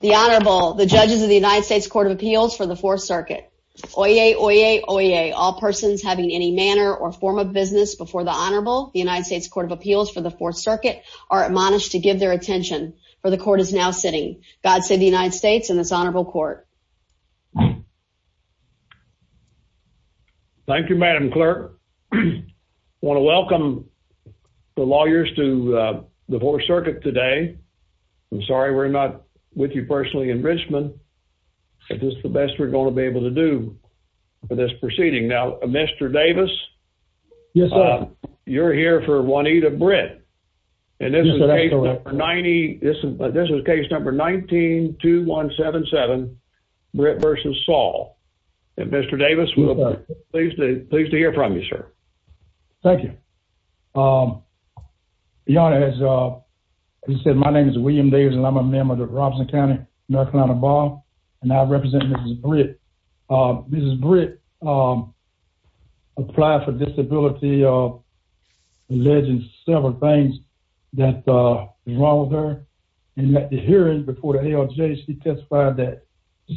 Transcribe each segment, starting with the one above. The Honorable, the judges of the United States Court of Appeals for the 4th Circuit. Oyez, oyez, oyez. All persons having any manner or form of business before the Honorable, the United States Court of Appeals for the 4th Circuit, are admonished to give their attention, for the Court is now sitting. God save the United States and this Honorable Court. Thank you, Madam Clerk. I want to welcome the lawyers to the 4th Circuit today. I'm sorry we're not with you personally in Richmond, but this is the best we're going to be able to do for this proceeding. Now, Mr. Davis? Yes, sir. You're here for Juanita Britt. Yes, sir, that's correct. And this is case number 19-2177, Britt v. Saul. And Mr. Davis, we're pleased to hear from you, sir. Thank you. Your Honor, as you said, my name is William Davis, and I'm a member of the Robson County, North Carolina Bar. And I represent Mrs. Britt. Mrs. Britt applied for disability, alleging several things that was wrong with her. In the hearing before the ALJ, she testified that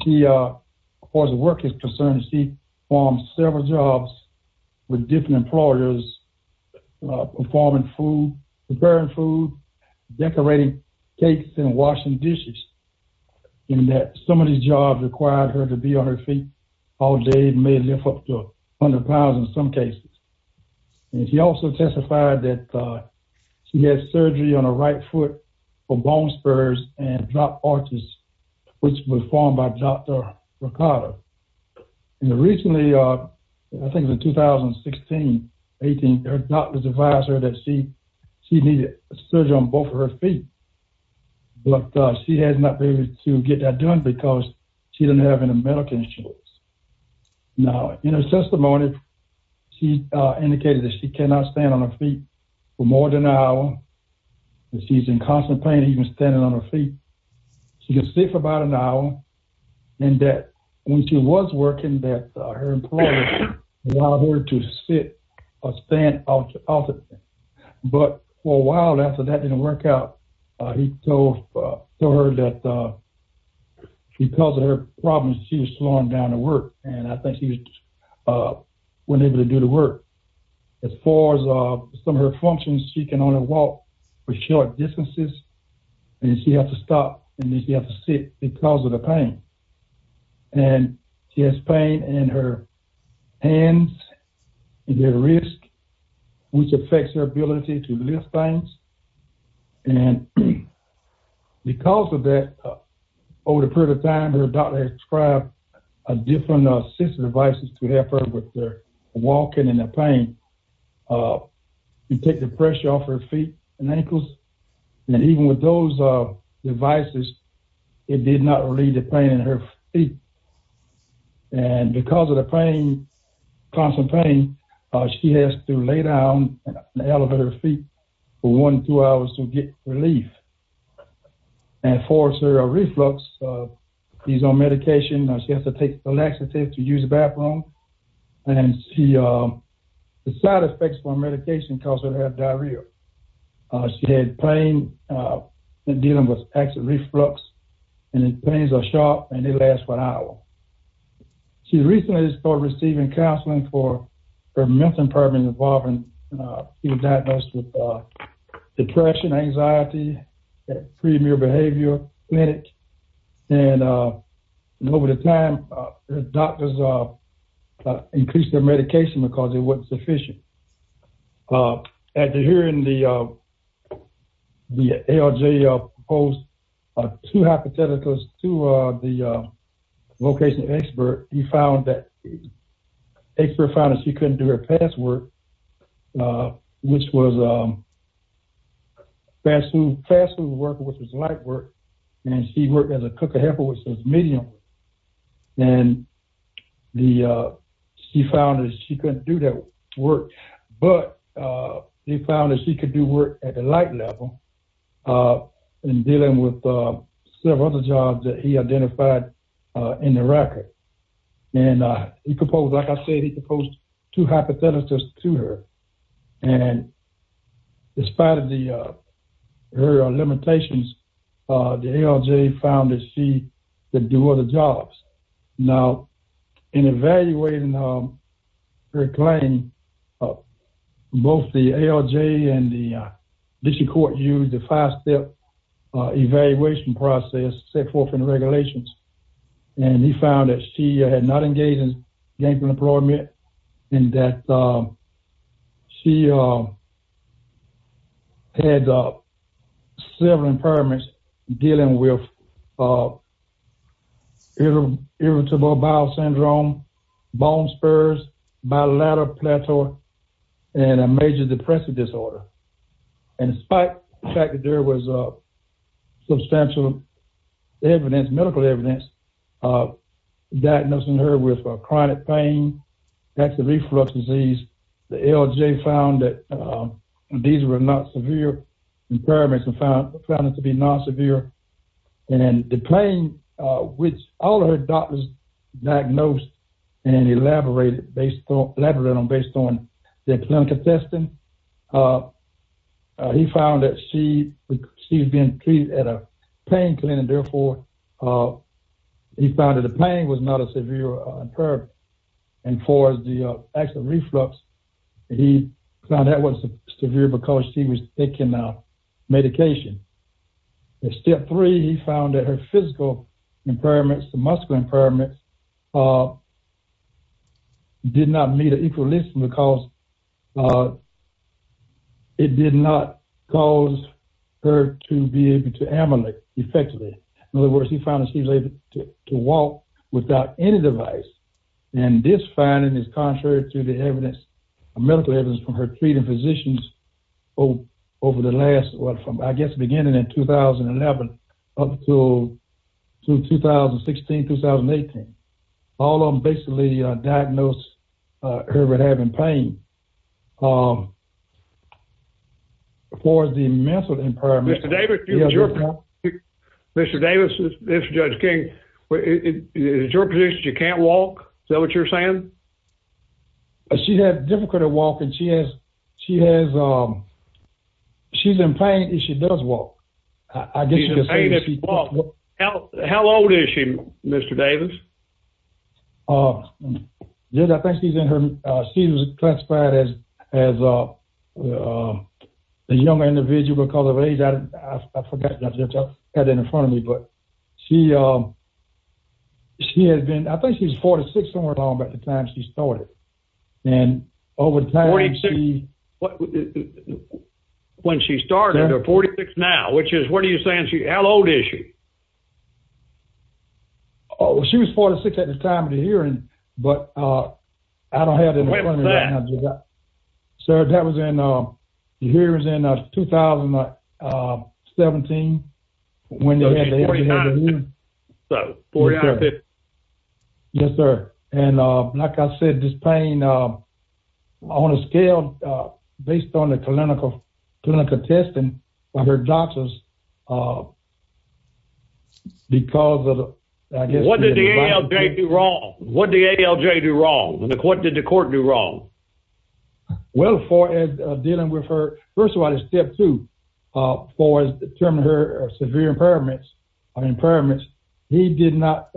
she, as far as work is concerned, she performed several jobs with different employers, performing food, preparing food, decorating cakes and washing dishes, and that some of these jobs required her to be on her feet all day, may lift up to 100 pounds in some cases. And she also testified that she had surgery on her right foot for bone spurs and drop arches, which were formed by Dr. Ricotta. And recently, I think it was 2016, her doctor advised her that she needed surgery on both of her feet. But she has not been able to get that done because she doesn't have any medical insurance. Now, in her testimony, she indicated that she cannot stand on her feet for more than an hour, and she's in constant pain even standing on her feet. She can sit for about an hour, and that when she was working, that her employer allowed her to sit or stand up. But for a while after that didn't work out, he told her that because of her problems, she was slowing down to work, and I think she wasn't able to do the work. As far as some of her functions, she can only walk for short distances, and she has to stop and she has to sit because of the pain. And she has pain in her hands and her wrists, which affects her ability to lift things. And because of that, over a period of time, her doctor prescribed a different set of devices to help her with her walking and her pain. You take the pressure off her feet and ankles, and even with those devices, it did not relieve the pain in her feet. And because of the pain, constant pain, she has to lay down and elevate her feet for one to two hours to get relief. And for her reflux, she's on medication. She has to take a laxative to use the bathroom, and the side effects from medication cause her to have diarrhea. She had pain dealing with acid reflux, and the pains are sharp and they last for an hour. She recently started receiving counseling for her mental impairment She was diagnosed with depression, anxiety, pre-immune behavior, panic. And over the time, the doctors increased their medication because it wasn't sufficient. After hearing the ALJ post two hypotheticals to the location expert, the expert found that she couldn't do her past work, which was fast food work, which was light work, and she worked as a cook or helper, which was medium work. And she found that she couldn't do that work, but they found that she could do work at the light level and dealing with several other jobs that he identified in the record. And he proposed, like I said, he proposed two hypotheticals to her. And in spite of her limitations, the ALJ found that she could do other jobs. Now, in evaluating her claim, both the ALJ and the district court used the five-step evaluation process set forth in the regulations. And he found that she had not engaged in gangplank employment and that she had several impairments dealing with irritable bowel syndrome, bone spurs, bilateral plateau, and a major depressive disorder. And in spite of the fact that there was substantial evidence, medical evidence, diagnosing her with chronic pain, active reflux disease, the ALJ found that these were not severe impairments and found them to be non-severe. And the pain, which all of her doctors diagnosed and elaborated on based on their clinical testing, he found that she was being treated at a pain clinic. Therefore, he found that the pain was not a severe impairment. And for the active reflux, he found that was severe because she was taking medication. Step three, he found that her physical impairments, the muscular impairments, did not meet an equal list because it did not cause her to be able to ameliorate effectively. In other words, he found that she was able to walk without any device. And this finding is contrary to the medical evidence from her treating physicians over the last, I guess, beginning in 2011 up to 2016, 2018. All of them basically diagnosed her with having pain. Mr. Davis, this is Judge King. Is it your position that she can't walk? Is that what you're saying? She has difficulty walking. She has, she's in pain if she does walk. She's in pain if she walks. How old is she, Mr. Davis? Yes, I think she's in her, she's classified as, she's in her mid-20s. She's classified as a young individual because of her age. I forgot. I had it in front of me. But she, she had been, I think she was 46 somewhere along about the time she started. And over time she, when she started or 46 now, which is, what are you saying, how old is she? Oh, she was 46 at the time of the hearing, but I don't have that. Sir, that was in, you hear it was in 2017 when they had the interview. Yes, sir. And like I said, this pain, on a scale, based on the clinical testing of her doctors, because of the, I guess. What did the ALJ do wrong? What did the ALJ do wrong? What did the court do wrong? Well, for dealing with her, first of all, it's step two. For determining her severe impairments, impairments. He did not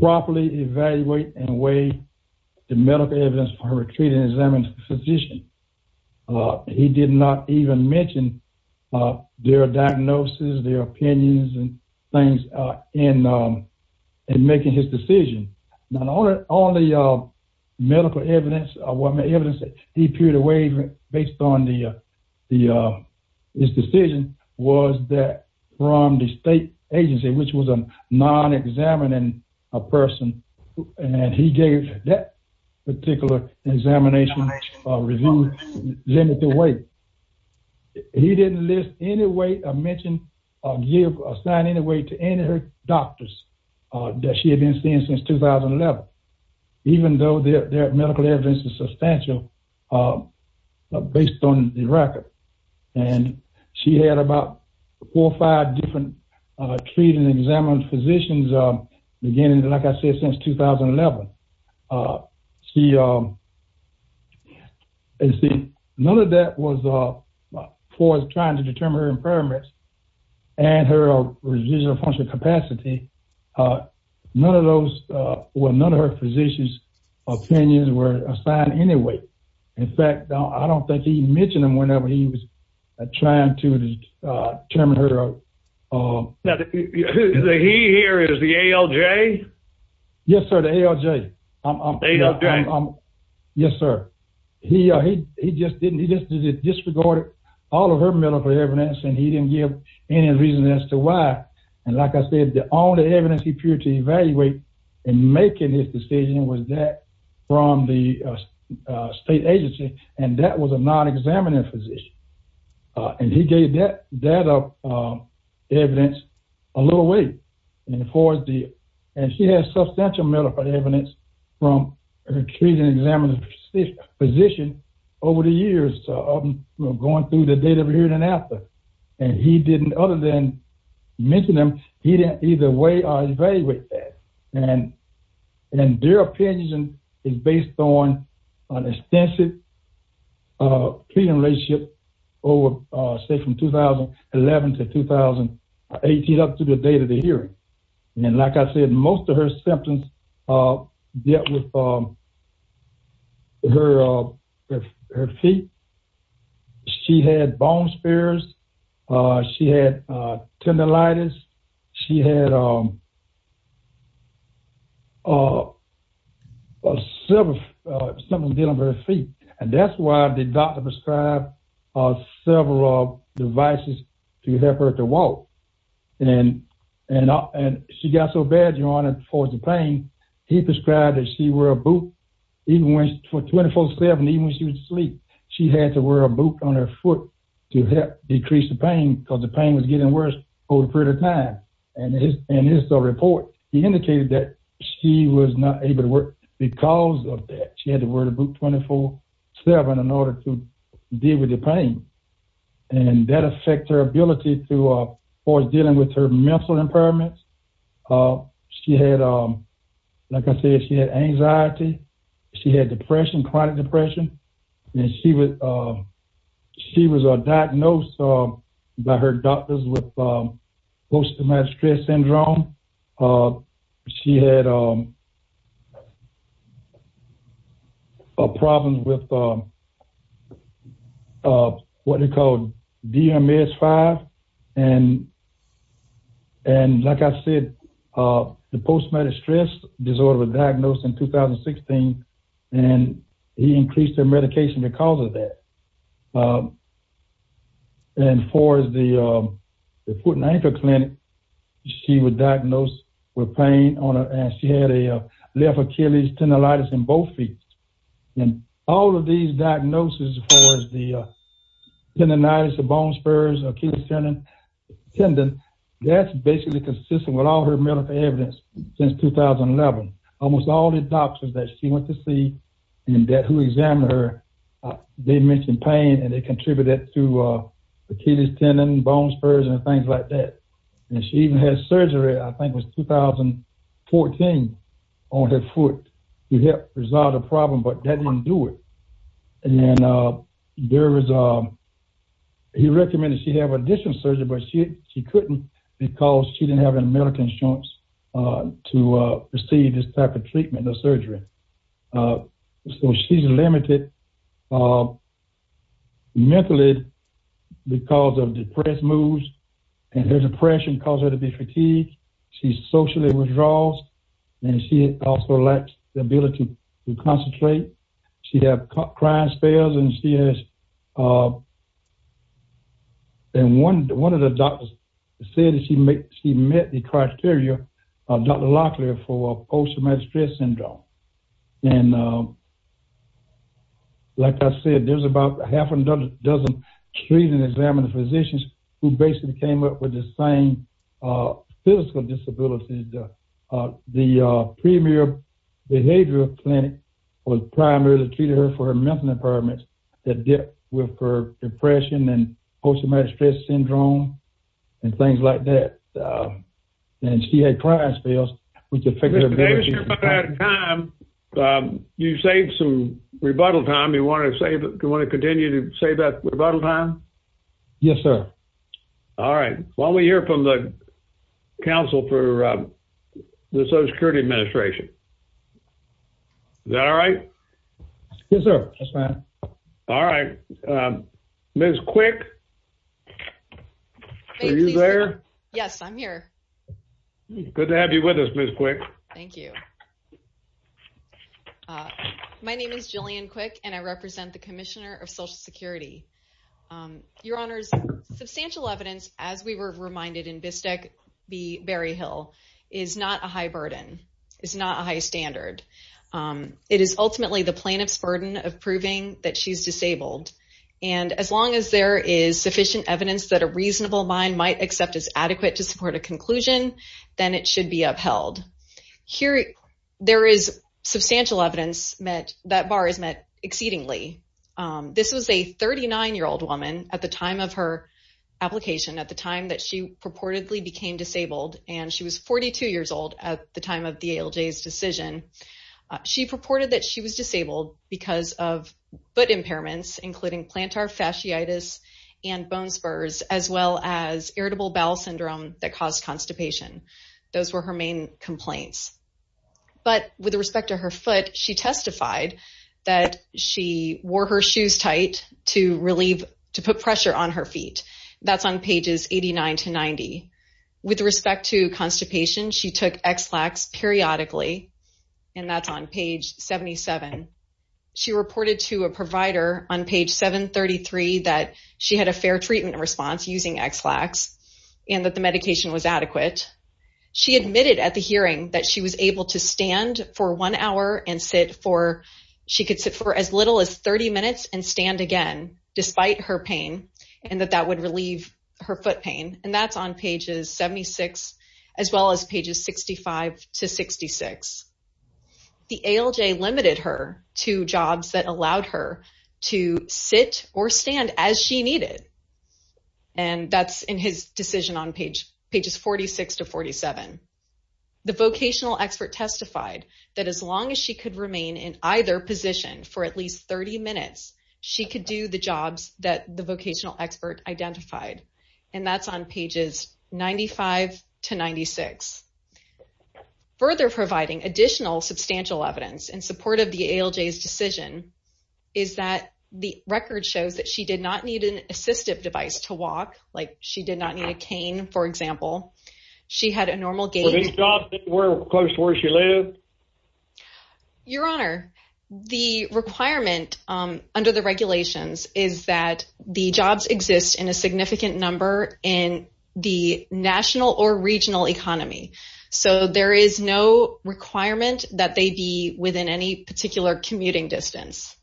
properly evaluate and weigh the medical evidence for her treating an examined physician. He did not even mention their diagnosis, their opinions and things in making his decision. Not only medical evidence, evidence that he appeared to weigh based on his decision, was that from the state agency, which was a non-examining person. And he gave that particular examination review limited weight. He didn't list any weight or mention or give or assign any weight to any of her doctors that she had been seeing since 2011. Even though their medical evidence is substantial based on the record. And she had about four or five different treated and examined physicians beginning, like I said, since 2011. See, none of that was for trying to determine her impairments and her residual functional capacity. None of those, or none of her physicians' opinions were assigned any weight. In fact, I don't think he mentioned them whenever he was trying to determine her. The he here is the ALJ? Yes, sir. The ALJ. Yes, sir. He just disregarded all of her medical evidence and he didn't give any reason as to why. And like I said, the only evidence he appeared to evaluate in making his decision was that from the state agency. And that was a non-examining physician. And he gave that evidence a little weight. And she had substantial medical evidence from her treated and examined physician over the years, going through the date of her hearing and after. And he didn't, other than mentioning them, he didn't either weigh or evaluate that. And their opinion is based on an extensive treatment relationship over, say, from 2011 to 2018 up to the date of the hearing. And like I said, most of her symptoms dealt with her feet. She had bone spares. She had tendinitis. She had several symptoms dealing with her feet. And that's why the doctor prescribed several devices to help her to walk. And she got so bad, Your Honor, for the pain, he prescribed that she wear a boot even when she was 24-7, even when she was asleep. She had to wear a boot on her foot to help decrease the pain because the pain was getting worse over a period of time. And in his report, he indicated that she was not able to work because of that. She had to wear a boot 24-7 in order to deal with the pain. And that affects her ability to deal with her mental impairments. She had, like I said, she had anxiety. She had depression, chronic depression. And she was diagnosed by her doctors with post-traumatic stress syndrome. She had a problem with what they called DMS-5. And like I said, the post-traumatic stress disorder was diagnosed in 2016. And he increased her medication because of that. And for the foot and ankle clinic, she was diagnosed with pain. And she had a left Achilles tendinitis in both feet. And all of these diagnoses for the tendinitis, the bone spurs, Achilles tendon, that's basically consistent with all her medical evidence since 2011. Almost all the doctors that she went to see and that who examined her, they mentioned pain and it contributed to Achilles tendon, bone spurs, and things like that. And she even had surgery, I think it was 2014, on her foot to help resolve the problem, but that didn't do it. And there was a, he recommended she have additional surgery, but she couldn't because she didn't have an American insurance to receive this type of treatment or surgery. So she's limited mentally because of depressed moods and her depression caused her to be fatigued. She socially withdraws and she also lacks the ability to concentrate. She has crying spells and she has, and one of the doctors said that she met the criteria, Dr. Locklear, for post-traumatic stress syndrome. And like I said, there's about half a dozen treated and examined physicians who basically came up with the same physical disability. The premier behavioral clinic was primarily treated her for her mental impairments that dealt with her depression and post-traumatic stress syndrome and things like that. And she had crying spells, which affected her. Mr. Davis, you're running out of time. You saved some rebuttal time. Do you want to continue to save that rebuttal time? Yes, sir. All right. Why don't we hear from the council for the Social Security Administration? Is that all right? Yes, sir. All right. Ms. Quick. Are you there? Yes, I'm here. Good to have you with us, Ms. Quick. Thank you. My name is Jillian Quick and I represent the Commissioner of Social Security. Your Honors, substantial evidence, as we were reminded in Bistec-Berry Hill, is not a high burden, is not a high standard. It is ultimately the plaintiff's burden of proving that she's disabled. And as long as there is sufficient evidence that a reasonable mind might accept as adequate to support a conclusion, then it should be upheld. Here, there is substantial evidence that that bar is met exceedingly. This was a 39-year-old woman at the time of her application, at the time that she purportedly became disabled, and she was 42 years old at the time of the ALJ's decision. She purported that she was disabled because of foot impairments, including plantar fasciitis and bone spurs, as well as irritable bowel syndrome that caused constipation. Those were her main complaints. But with respect to her foot, she testified that she wore her shoes tight to put pressure on her feet. That's on pages 89 to 90. With respect to constipation, she took Ex-Lax periodically, and that's on page 77. She reported to a provider on page 733 that she had a fair treatment response using Ex-Lax and that the medication was adequate. She admitted at the hearing that she was able to stand for one hour, and she could sit for as little as 30 minutes and stand again, despite her pain, and that that would relieve her foot pain. And that's on pages 76, as well as pages 65 to 66. The ALJ limited her to jobs that allowed her to sit or stand as she needed. And that's in his decision on pages 46 to 47. The vocational expert testified that as long as she could remain in either position for at least 30 minutes, she could do the jobs that the vocational expert identified. And that's on pages 95 to 96. Further providing additional substantial evidence in support of the ALJ's decision is that the record shows that she did not need an assistive device to walk. Like, she did not need a cane, for example. She had a normal gait. Were these jobs close to where she lived? Your Honor, the requirement under the regulations is that the jobs exist in a significant number in the national or regional economy. So there is no requirement that they be within any particular commuting distance.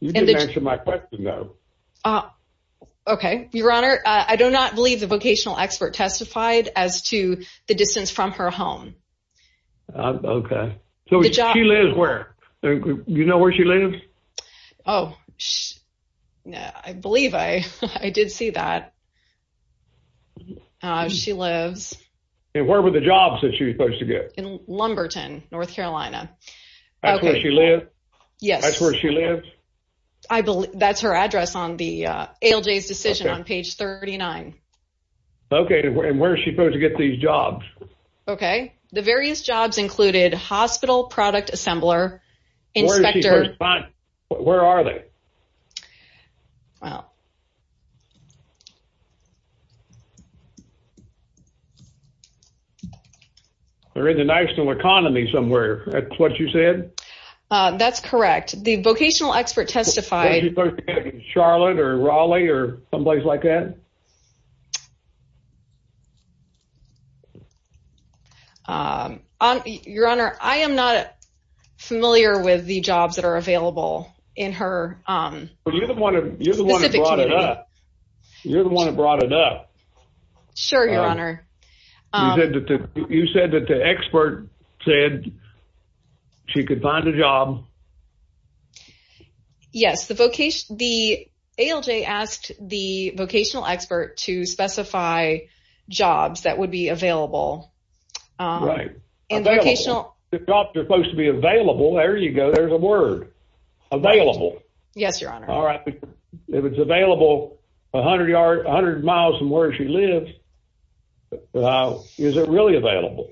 You didn't answer my question, though. Okay. Your Honor, I do not believe the vocational expert testified as to the distance from her home. Okay. So she lives where? Do you know where she lives? Oh, I believe I did see that. She lives. And where were the jobs that she was supposed to get? In Lumberton, North Carolina. That's where she lives? Yes. That's where she lives? That's her address on the ALJ's decision on page 39. Okay. And where is she supposed to get these jobs? Okay. The various jobs included hospital product assembler, inspector. Where are they? Well. They're in the national economy somewhere. That's what you said? That's correct. The vocational expert testified. Was she supposed to get them in Charlotte or Raleigh or someplace like that? Your Honor, I am not familiar with the jobs that are available in her specific case. You're the one that brought it up. You're the one that brought it up. Sure, Your Honor. You said that the expert said she could find a job. Yes. The ALJ asked the vocational expert to specify jobs that would be available. Right. Available. The jobs are supposed to be available. There you go. There's a word. Available. Yes, Your Honor. All right. If it's available 100 miles from where she lives, is it really available?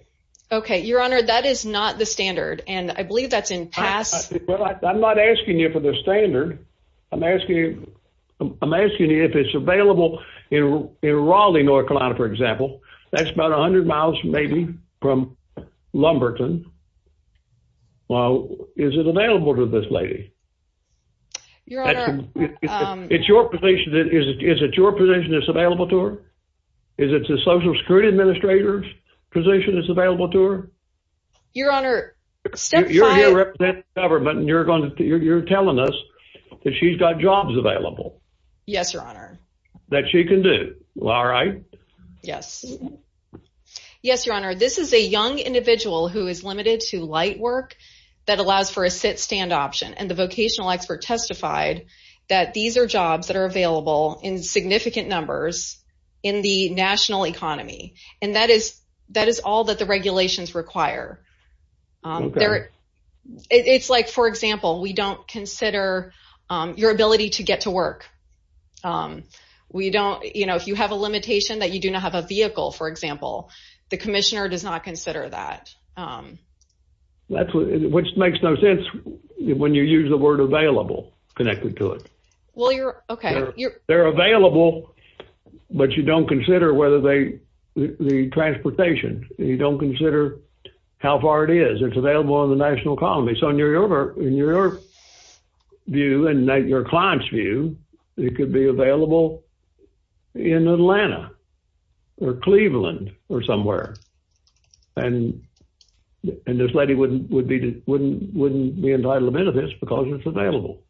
Okay. Your Honor, that is not the standard, and I believe that's in pass. Well, I'm not asking you for the standard. I'm asking you if it's available in Raleigh, North Carolina, for example. That's about 100 miles maybe from Lumberton. Well, is it available to this lady? Your Honor. Is it your position it's available to her? Is it the Social Security Administrator's position it's available to her? Your Honor, step five. You're here representing the government, and you're telling us that she's got jobs available. Yes, Your Honor. That she can do. All right. Yes. Yes, Your Honor. This is a young individual who is limited to light work that allows for a sit-stand option, and the vocational expert testified that these are jobs that are available in significant numbers in the national economy, and that is all that the regulations require. Okay. It's like, for example, we don't consider your ability to get to work. We don't, you know, if you have a limitation that you do not have a vehicle, for example, the commissioner does not consider that. Which makes no sense when you use the word available connected to it. Well, you're, okay. They're available, but you don't consider whether they, the transportation. You don't consider how far it is. It's available in the national economy. So in your view, in your client's view, it could be available in Atlanta or Cleveland or somewhere, and this lady wouldn't be entitled to benefits because it's available.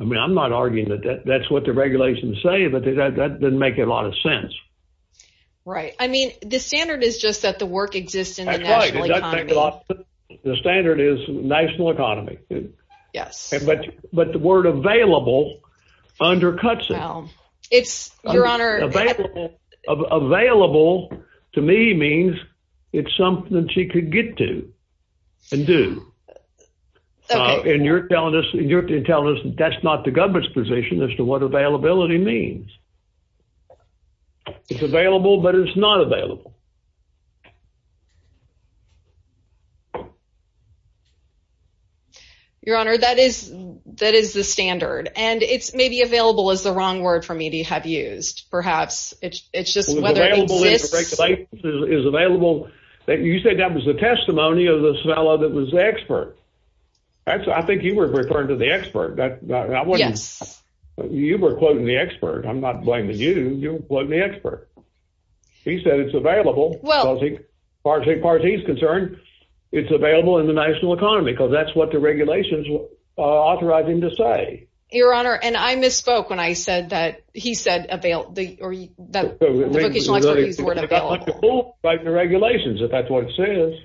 I mean, I'm not arguing that that's what the regulations say, but that doesn't make a lot of sense. Right. I mean, the standard is just that the work exists in the national economy. The standard is national economy. Yes. But the word available undercuts it. It's, Your Honor. Available to me means it's something she could get to and do. Okay. And you're telling us that's not the government's position as to what availability means. It's available, but it's not available. Your Honor, that is the standard, and it's maybe available is the wrong word for me to have used. Perhaps it's just whether it exists. Available is available. You said that was the testimony of this fellow that was the expert. I think you were referring to the expert. Yes. You were quoting the expert. I'm not blaming you. You were quoting the expert. He said it's available. Well. As far as he's concerned, it's available in the national economy because that's what the regulations authorize him to say. Your Honor, and I misspoke when I said that he said the vocational expert used the word available. Like the regulations, if that's what it says.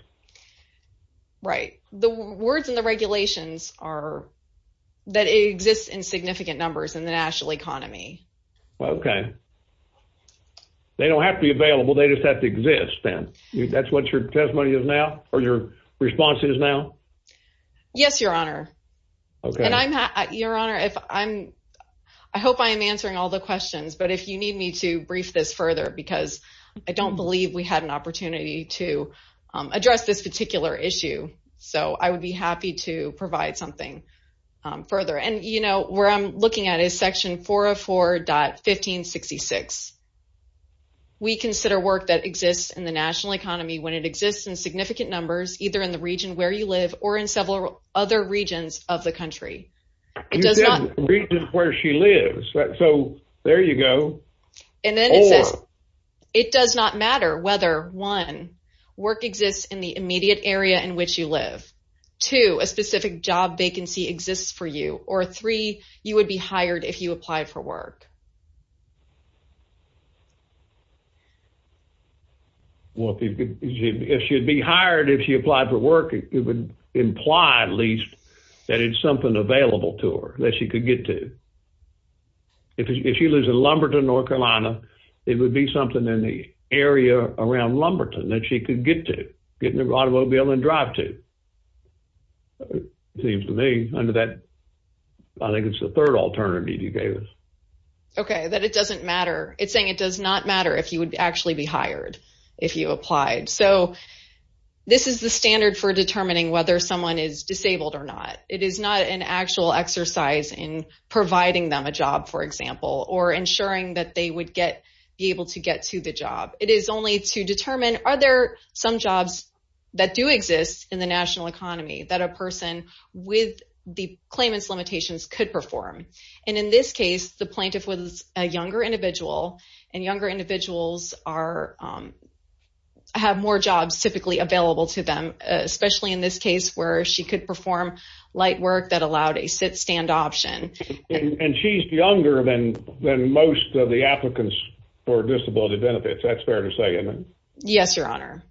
Right. The words in the regulations are that it exists in significant numbers in the national economy. Okay. They don't have to be available. They just have to exist, then. That's what your testimony is now or your response is now? Yes, Your Honor. Okay. Your Honor, I hope I am answering all the questions, but if you need me to brief this further, because I don't believe we had an opportunity to address this particular issue, so I would be happy to provide something further. And, you know, where I'm looking at is Section 404.1566. We consider work that exists in the national economy when it exists in significant numbers, either in the region where you live or in several other regions of the country. You said region where she lives. So there you go. And then it says it does not matter whether, one, work exists in the immediate area in which you live, two, a specific job vacancy exists for you, or three, you would be hired if you applied for work. Well, if she would be hired if she applied for work, it would imply at least that it's something available to her that she could get to. If she lives in Lumberton, North Carolina, it would be something in the area around Lumberton that she could get to, get in an automobile and drive to. It seems to me under that, I think it's the third alternative you gave us. Okay, that it doesn't matter. It's saying it does not matter if you would actually be hired if you applied. So this is the standard for determining whether someone is disabled or not. It is not an actual exercise in providing them a job, for example, or ensuring that they would be able to get to the job. It is only to determine are there some jobs that do exist in the national economy that a person with the claimant's limitations could perform. And in this case, the plaintiff was a younger individual, and younger individuals have more jobs typically available to them, especially in this case where she could perform light work that allowed a sit-stand option. And she's younger than most of the applicants for disability benefits. That's fair to say, isn't it? Yes, Your Honor.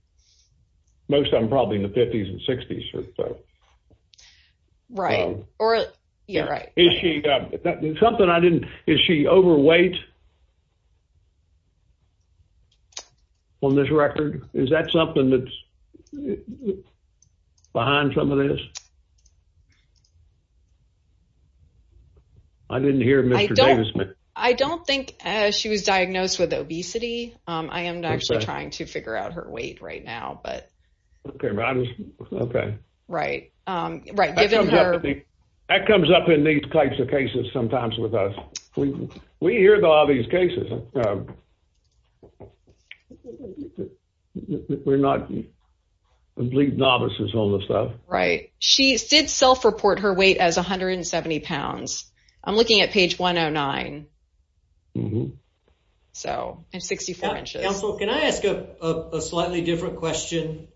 Most of them probably in the 50s and 60s or so. Right, or, yeah, right. Is she, something I didn't, is she overweight on this record? Is that something that's behind some of this? I didn't hear Mr. Davis. I don't think she was diagnosed with obesity. I am actually trying to figure out her weight right now, but. Okay. Okay. Right. That comes up in these types of cases sometimes with us. We hear about these cases. We're not complete novices on this stuff. Right. She did self-report her weight as 170 pounds. I'm looking at page 109. So, and 64 inches. Counsel, can I ask a slightly different question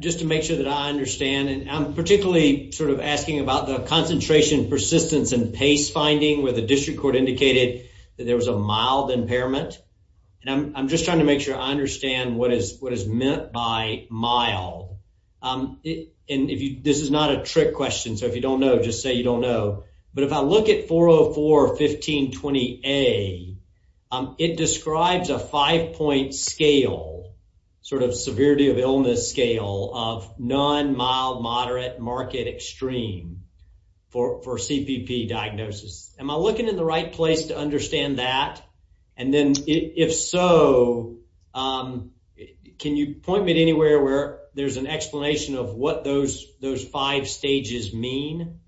just to make sure that I understand? And I'm particularly sort of asking about the concentration, persistence, and pace finding where the district court indicated that there was a mild impairment. And I'm just trying to make sure I understand what is meant by mild. And this is not a trick question. So if you don't know, just say you don't know. But if I look at 404-1520A, it describes a five-point scale, sort of severity of illness scale of non-mild, moderate, and moderate to the limit market extreme for CPP diagnosis. Am I looking in the right place to understand that? And then if so, can you point me to anywhere where there's an explanation of what those five stages mean?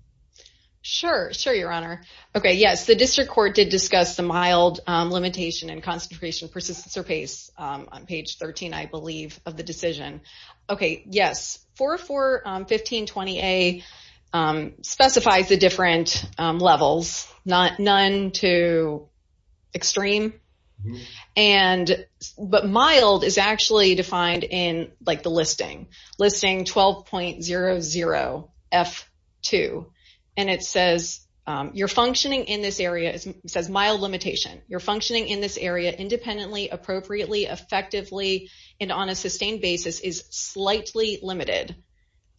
Sure. Sure, your honor. Okay. Yes, the district court did discuss the mild limitation and concentration, persistence, or pace on page 13, I believe, of the decision. Okay. Yes. Yes. 4-4-15-20-A specifies the different levels, none to extreme. But mild is actually defined in, like, the listing, listing 12.00-F-2. And it says, you're functioning in this area, it says mild limitation. You're functioning in this area independently, appropriately, effectively, and on a sustained basis is slightly limited.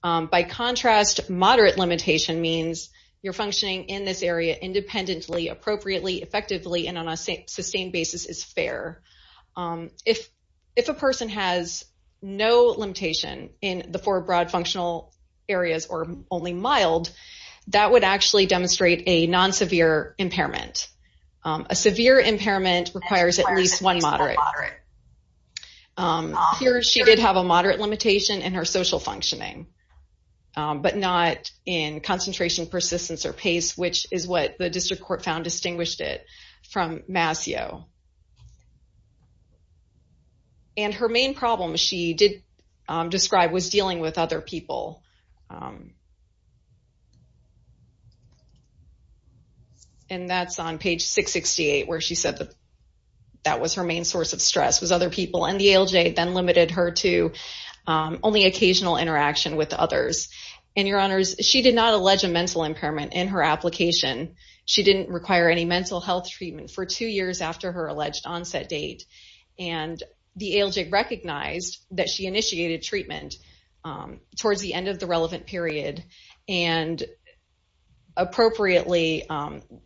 By contrast, moderate limitation means you're functioning in this area independently, appropriately, effectively, and on a sustained basis is fair. If a person has no limitation in the four broad functional areas or only mild, that would actually demonstrate a non-severe impairment. A severe impairment requires at least one moderate. Here she did have a moderate limitation in her social functioning, but not in concentration, persistence, or pace, which is what the district court found distinguished it from Mascio. And her main problem, she did describe, was dealing with other people. And that's on page 668 where she said that was her main source of stress, was other people. And the ALJ then limited her to only occasional interaction with others. And, Your Honors, she did not allege a mental impairment in her application. She didn't require any mental health treatment for two years after her alleged onset date. And the ALJ recognized that she initiated treatment towards the end of the relevant period and appropriately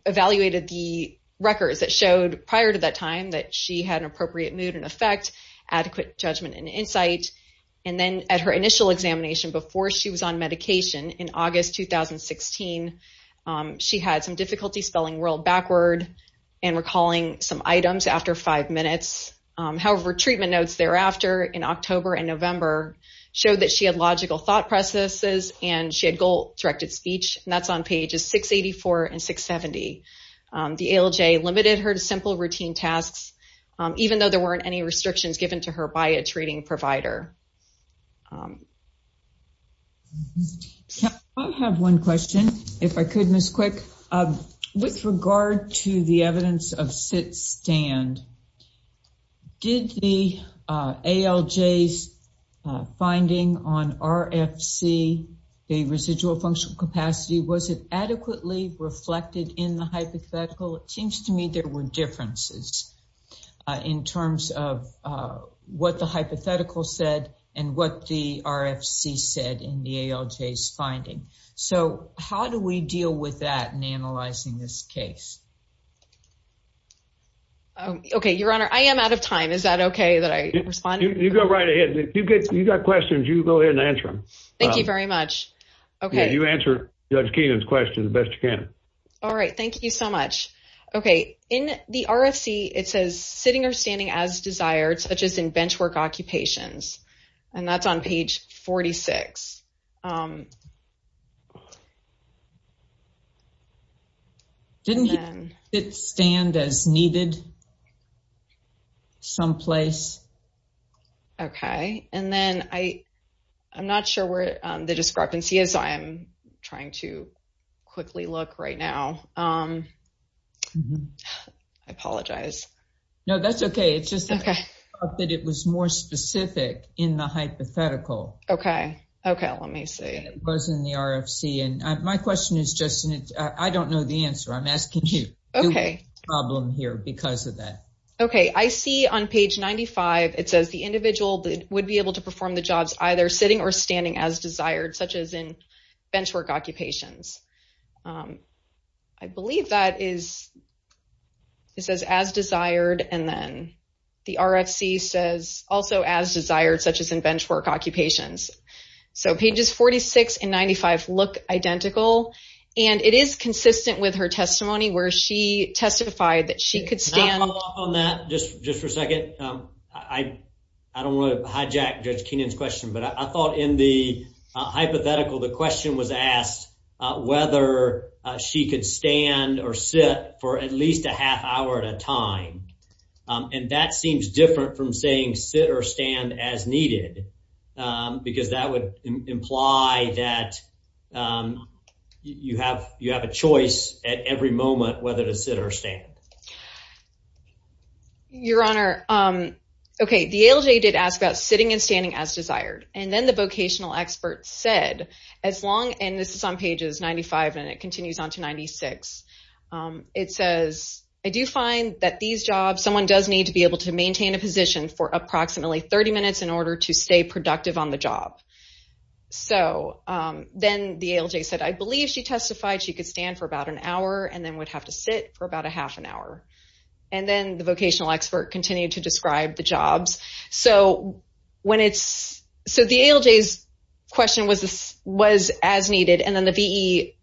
evaluated the records that showed prior to that time that she had an appropriate mood and effect, adequate judgment and insight. And then at her initial examination before she was on medication in August 2016, she had some difficulty spelling world backward and recalling some items after five minutes. However, treatment notes thereafter in October and November showed that she had logical thought processes and she had goal-directed speech. And that's on pages 684 and 670. The ALJ limited her to simple routine tasks, even though there weren't any restrictions given to her by a treating provider. I have one question, if I could, Ms. Quick. With regard to the evidence of sit-stand, did the ALJ's finding on RFC, the residual functional capacity, was it adequately reflected in the hypothetical? It seems to me there were differences in terms of what the hypothetical said and what the RFC said in the ALJ's finding. So how do we deal with that in analyzing this case? Okay, Your Honor. I am out of time. Is that okay that I respond? You go right ahead. If you've got questions, you go ahead and answer them. Thank you very much. Okay. You answer Judge Keenan's question the best you can. All right. Thank you so much. Okay. In the RFC, it says sitting or standing as desired, such as in bench work occupations, and that's on page 46. Didn't sit-stand as needed someplace? Okay. And then I'm not sure where the discrepancy is. I'm trying to quickly look right now. I apologize. No, that's okay. It's just that it was more specific in the hypothetical. Okay. Okay. Let me see. It was in the RFC. And my question is just, I don't know the answer. I'm asking you. Okay. The problem here because of that. Okay. I see on page 95, it says the individual would be able to perform the jobs either sitting or standing as desired, such as in bench work occupations. I believe that is, it says as desired, and then the RFC says also as desired, such as in bench work occupations. So pages 46 and 95 look identical, and it is consistent with her testimony where she testified that she could stand. Can I follow up on that just for a second? I don't want to hijack Judge Keenan's question, but I thought in the hypothetical, the question was asked whether she could stand or sit for at least a half hour at a time. And that seems different from saying sit or stand as needed. Because that would imply that you have, you have a choice at every moment, whether to sit or stand. Your honor. Okay. The ALJ did ask about sitting and standing as desired. And then the vocational experts said, as long, and this is on pages 95 and it continues on to 96. It says, I do find that these jobs, someone does need to be able to maintain a position for approximately 30 minutes in order to stay productive on the job. So then the ALJ said, I believe she testified. She could stand for about an hour and then would have to sit for about a half an hour. And then the vocational expert continued to describe the jobs. So when it's, so the ALJ's question was this was as needed. And then the VE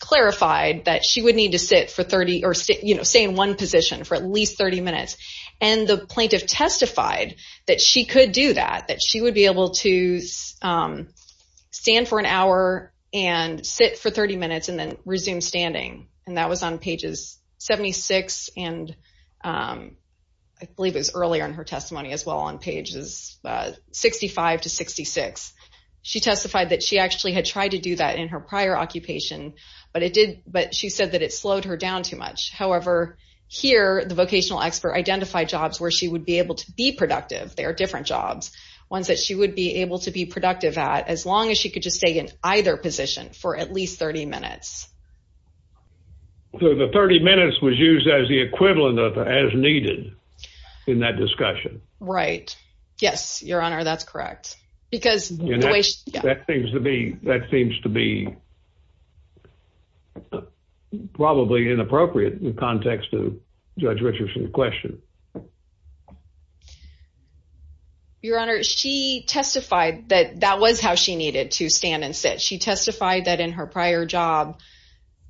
clarified that she would need to sit for 30 or stay, you know, stay in one position for at least 30 minutes and the plaintiff testified that she could do that, that she would be able to stand for an hour and sit for 30 minutes and then resume standing. And that was on pages 76. And I believe it was earlier in her testimony as well on pages 65 to 66. She testified that she actually had tried to do that in her prior occupation, but it did, but she said that it slowed her down too much. However, here the vocational expert identified jobs where she would be able to be productive. They are different jobs, ones that she would be able to be productive at as long as she could just stay in either position for at least 30 minutes. So the 30 minutes was used as the equivalent of, as needed in that discussion. Right? Yes, your honor. That's correct. Because that seems to be, that seems to be probably inappropriate in context to judge Richardson's question. Your honor. She testified that that was how she needed to stand and sit. She testified that in her prior job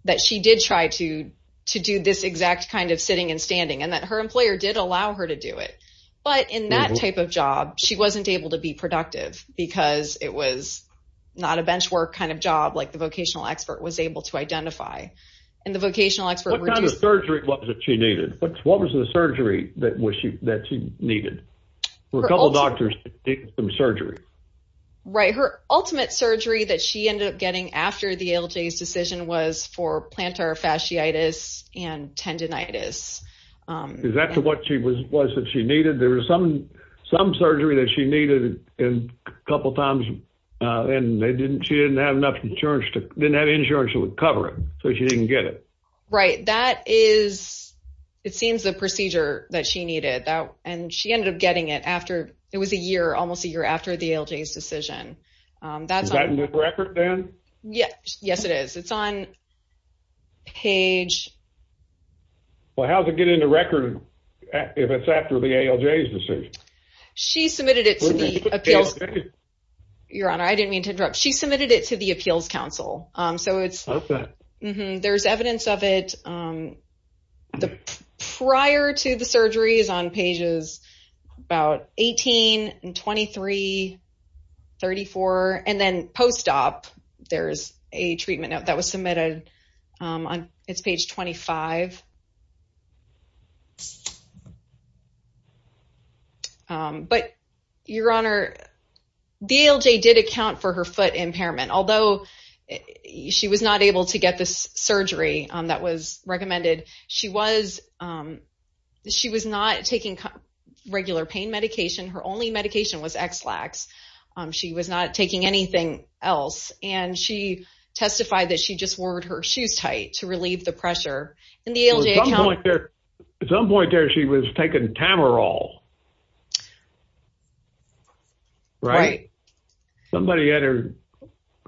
that she did try to, to do this exact kind of sitting and standing and that her employer did allow her to do it. But in that type of job, she wasn't able to be productive because it was not a bench work kind of job. Like the vocational expert was able to identify and the vocational expert was able to identify what kind of work was needed. What kind of surgery was that she needed? What was the surgery that she needed? A couple of doctors did some surgery. Right. Her ultimate surgery that she ended up getting after the ALJs decision was for plantar fasciitis and tendonitis. Is that what she was, was that she needed, there was some, some surgery that she needed a couple of times and they didn't, she didn't have enough insurance, didn't have insurance to cover it. So she didn't get it. Right. That is, it seems the procedure that she needed that, and she ended up getting it after it was a year, almost a year after the ALJs decision. Is that in the record then? Yes. Yes, it is. It's on page. Well, how does it get into record if it's after the ALJs decision? She submitted it to the appeals. Your Honor, I didn't mean to interrupt. She submitted it to the appeals council. So it's. Okay. There's evidence of it. Prior to the surgeries on pages about 18 and 23, 34, and then post-op, there's a treatment note that was submitted. It's page 25. But Your Honor, the ALJ did account for her foot impairment, although she was not able to get the surgery that was recommended. She was not taking regular pain medication. Her only medication was Exlax. She was not taking anything else. And she testified that she just wore her shoes tight to relieve the pressure. At some point there, she was taking Tamarol. Right. Somebody had her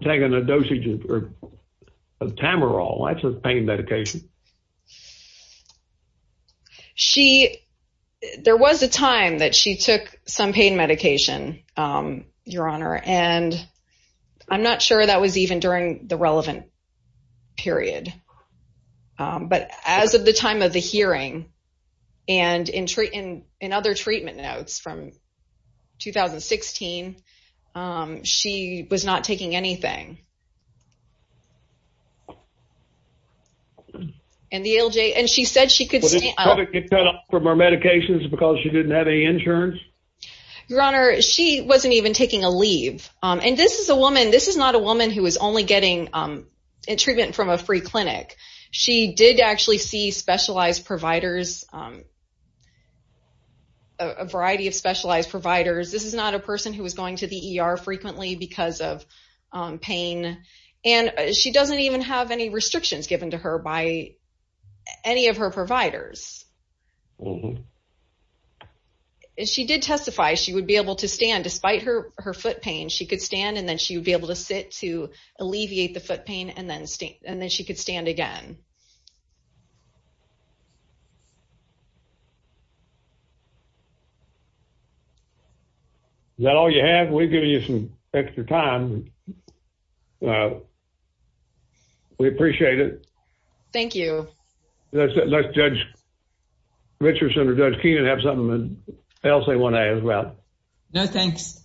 taking a dosage of Tamarol. That's a pain medication. She, there was a time that she took some pain medication, Your Honor. And I'm not sure that was even during the relevant period. But as of the time of the hearing, and in other treatment notes from 2016, she was not taking anything. And the ALJ, and she said she could stand up. Did she get cut off from her medications because she didn't have any insurance? Your Honor, she wasn't even taking a leave. And this is a woman, this is not a woman who is only getting treatment from a free clinic. She did actually see specialized providers, a variety of specialized providers. This is not a person who is going to the ER frequently because of pain. And she doesn't even have any restrictions given to her by any of her providers. She did testify she would be able to stand, despite her foot pain. She could stand and then she would be able to sit to alleviate the foot pain and then she could stand again. Is that all you have? We've given you some extra time. We appreciate it. Thank you. Let's judge Richardson or judge Keenan have something else they want to add as well. No, thanks.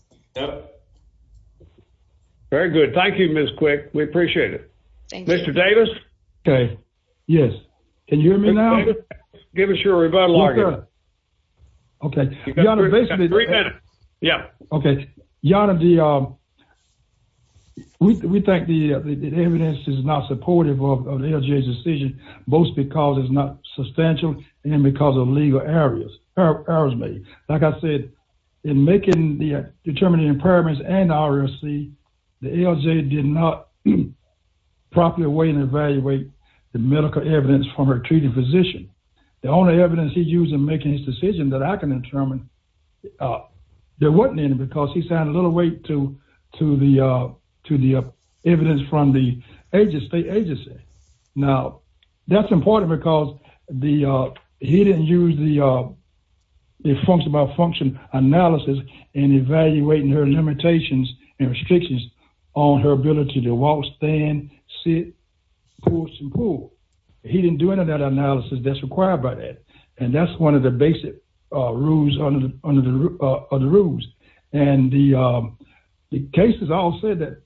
Very good. Thank you, Ms. Quick. We appreciate it. Mr. Davis. Okay. Yes. Can you hear me now? Give us your rebuttal. Okay. Yeah. Okay. We think the evidence is not supportive of the decision, both because it's not substantial and because of legal areas. Like I said, in making the determining impairments and RFC, the ALJ did not properly weigh and evaluate the medical evidence from her treating physician. The only evidence he used in making his decision that I can determine, there wasn't any, because he sent a little weight to the evidence from the agency. Now that's important because he didn't use the function by function to determine the limitations and restrictions on her ability to walk, stand, sit, He didn't do any of that analysis that's required by that. And that's one of the basic rules under the, under the other rules. And the, the cases all said that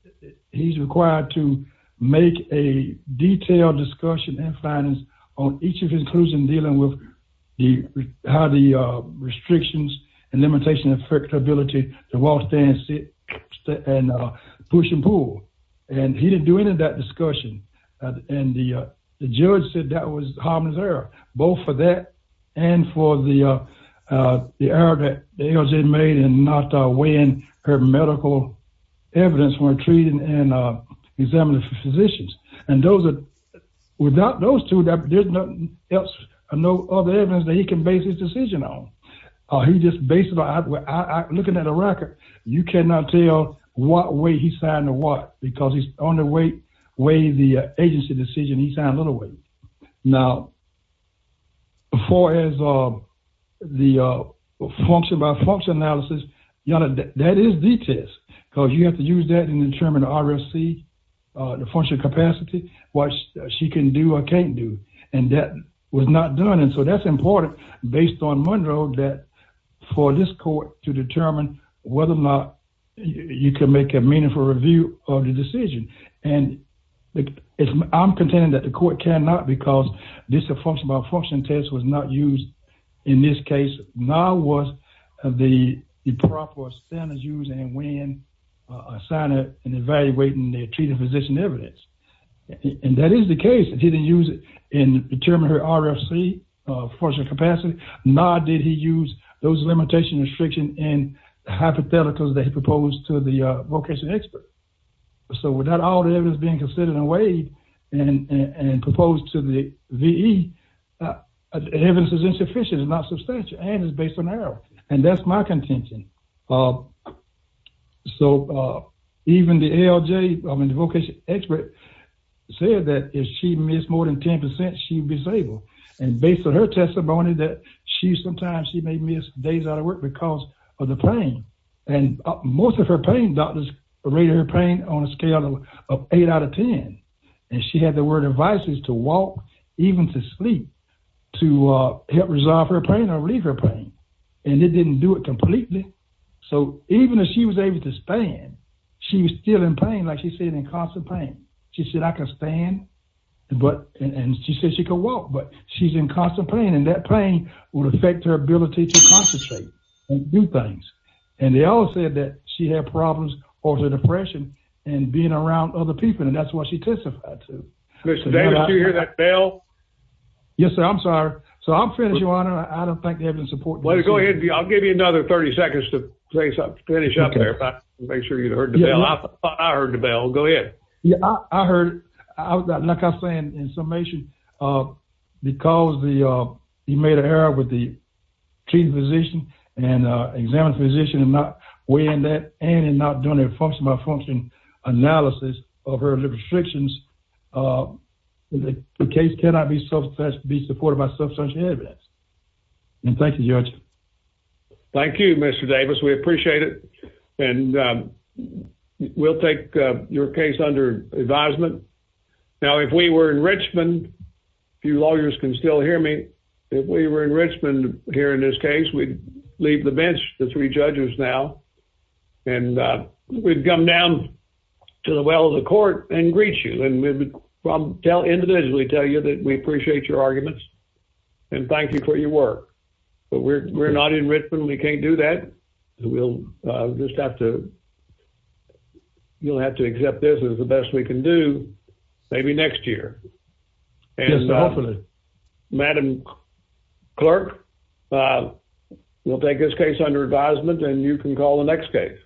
he's required to make a detailed discussion and finance on each of his inclusion, dealing with the, how the restrictions and limitation affect ability to walk, stand, sit, and push and pull. And he didn't do any of that discussion. And the, the judge said that was harmless error, both for that. And for the, the error that the ALJ made in not weighing her medical evidence when treating and examining physicians. And those are without those two, that there's nothing else or no other evidence that he can base his decision on. He just basically looking at a record, you cannot tell what way he signed or what, because he's on the weight way, the agency decision, he signed a little weight. Now before his, the function by function analysis, you know, that is the test because you have to use that and determine RFC, the function capacity, what she can do or can't do. And that was not done. And so that's important based on Monroe that for this court to determine whether or not you can make a meaningful review of the decision. And I'm contending that the court cannot, because this is a function by function test was not used in this case. Now was the, the proper standards use and when I signed it and evaluating their treating physician evidence. And that is the case. He didn't use it in determining her RFC function capacity. Nor did he use those limitation restriction in hypotheticals that he proposed to the vocation expert. So without all the evidence being considered in a way and, and proposed to the VE evidence is insufficient and not substantial. And it's based on arrow. And that's my contention. So even the LJ, I mean, The vocation expert said that if she missed more than 10%, she'd be disabled. And based on her testimony that she, sometimes she may miss days out of work because of the pain. And most of her pain, doctors rated her pain on a scale of eight out of 10. And she had the word advices to walk, even to sleep to help resolve her pain or leave her pain. And it didn't do it completely. So even as she was able to spend, She was still in pain. Like she said, in constant pain, she said, I can stand. But, and she said she could walk, but she's in constant pain. And that pain would affect her ability to concentrate. New things. And they all said that she had problems or the depression and being around other people. And that's what she testified to. You hear that bell. Yes, sir. I'm sorry. So I'm finished. I don't think they have any support. Go ahead. I'll give you another 30 seconds to say something. Finish up there. Make sure you heard the bell. I heard the bell. Go ahead. Yeah. I heard. Like I'm saying in summation, because the, he made an error with the chief physician and examined physician and not weighing that and not doing a function by function analysis of her restrictions. The case cannot be self-taught to be supported by substance. And thank you, judge. Thank you, Mr. Davis. We appreciate it. And we'll take your case under advisement. Now, if we were in Richmond, few lawyers can still hear me. If we were in Richmond here in this case, we'd leave the bench, the three judges now. And we'd come down to the well of the court and greet you. And we'd individually tell you that we appreciate your arguments and thank you for your work. But we're not in Richmond. We can't do that. We'll just have to, you'll have to accept this as the best we can do. Maybe next year. Madam clerk. We'll take this case under advisement and you can call the next case.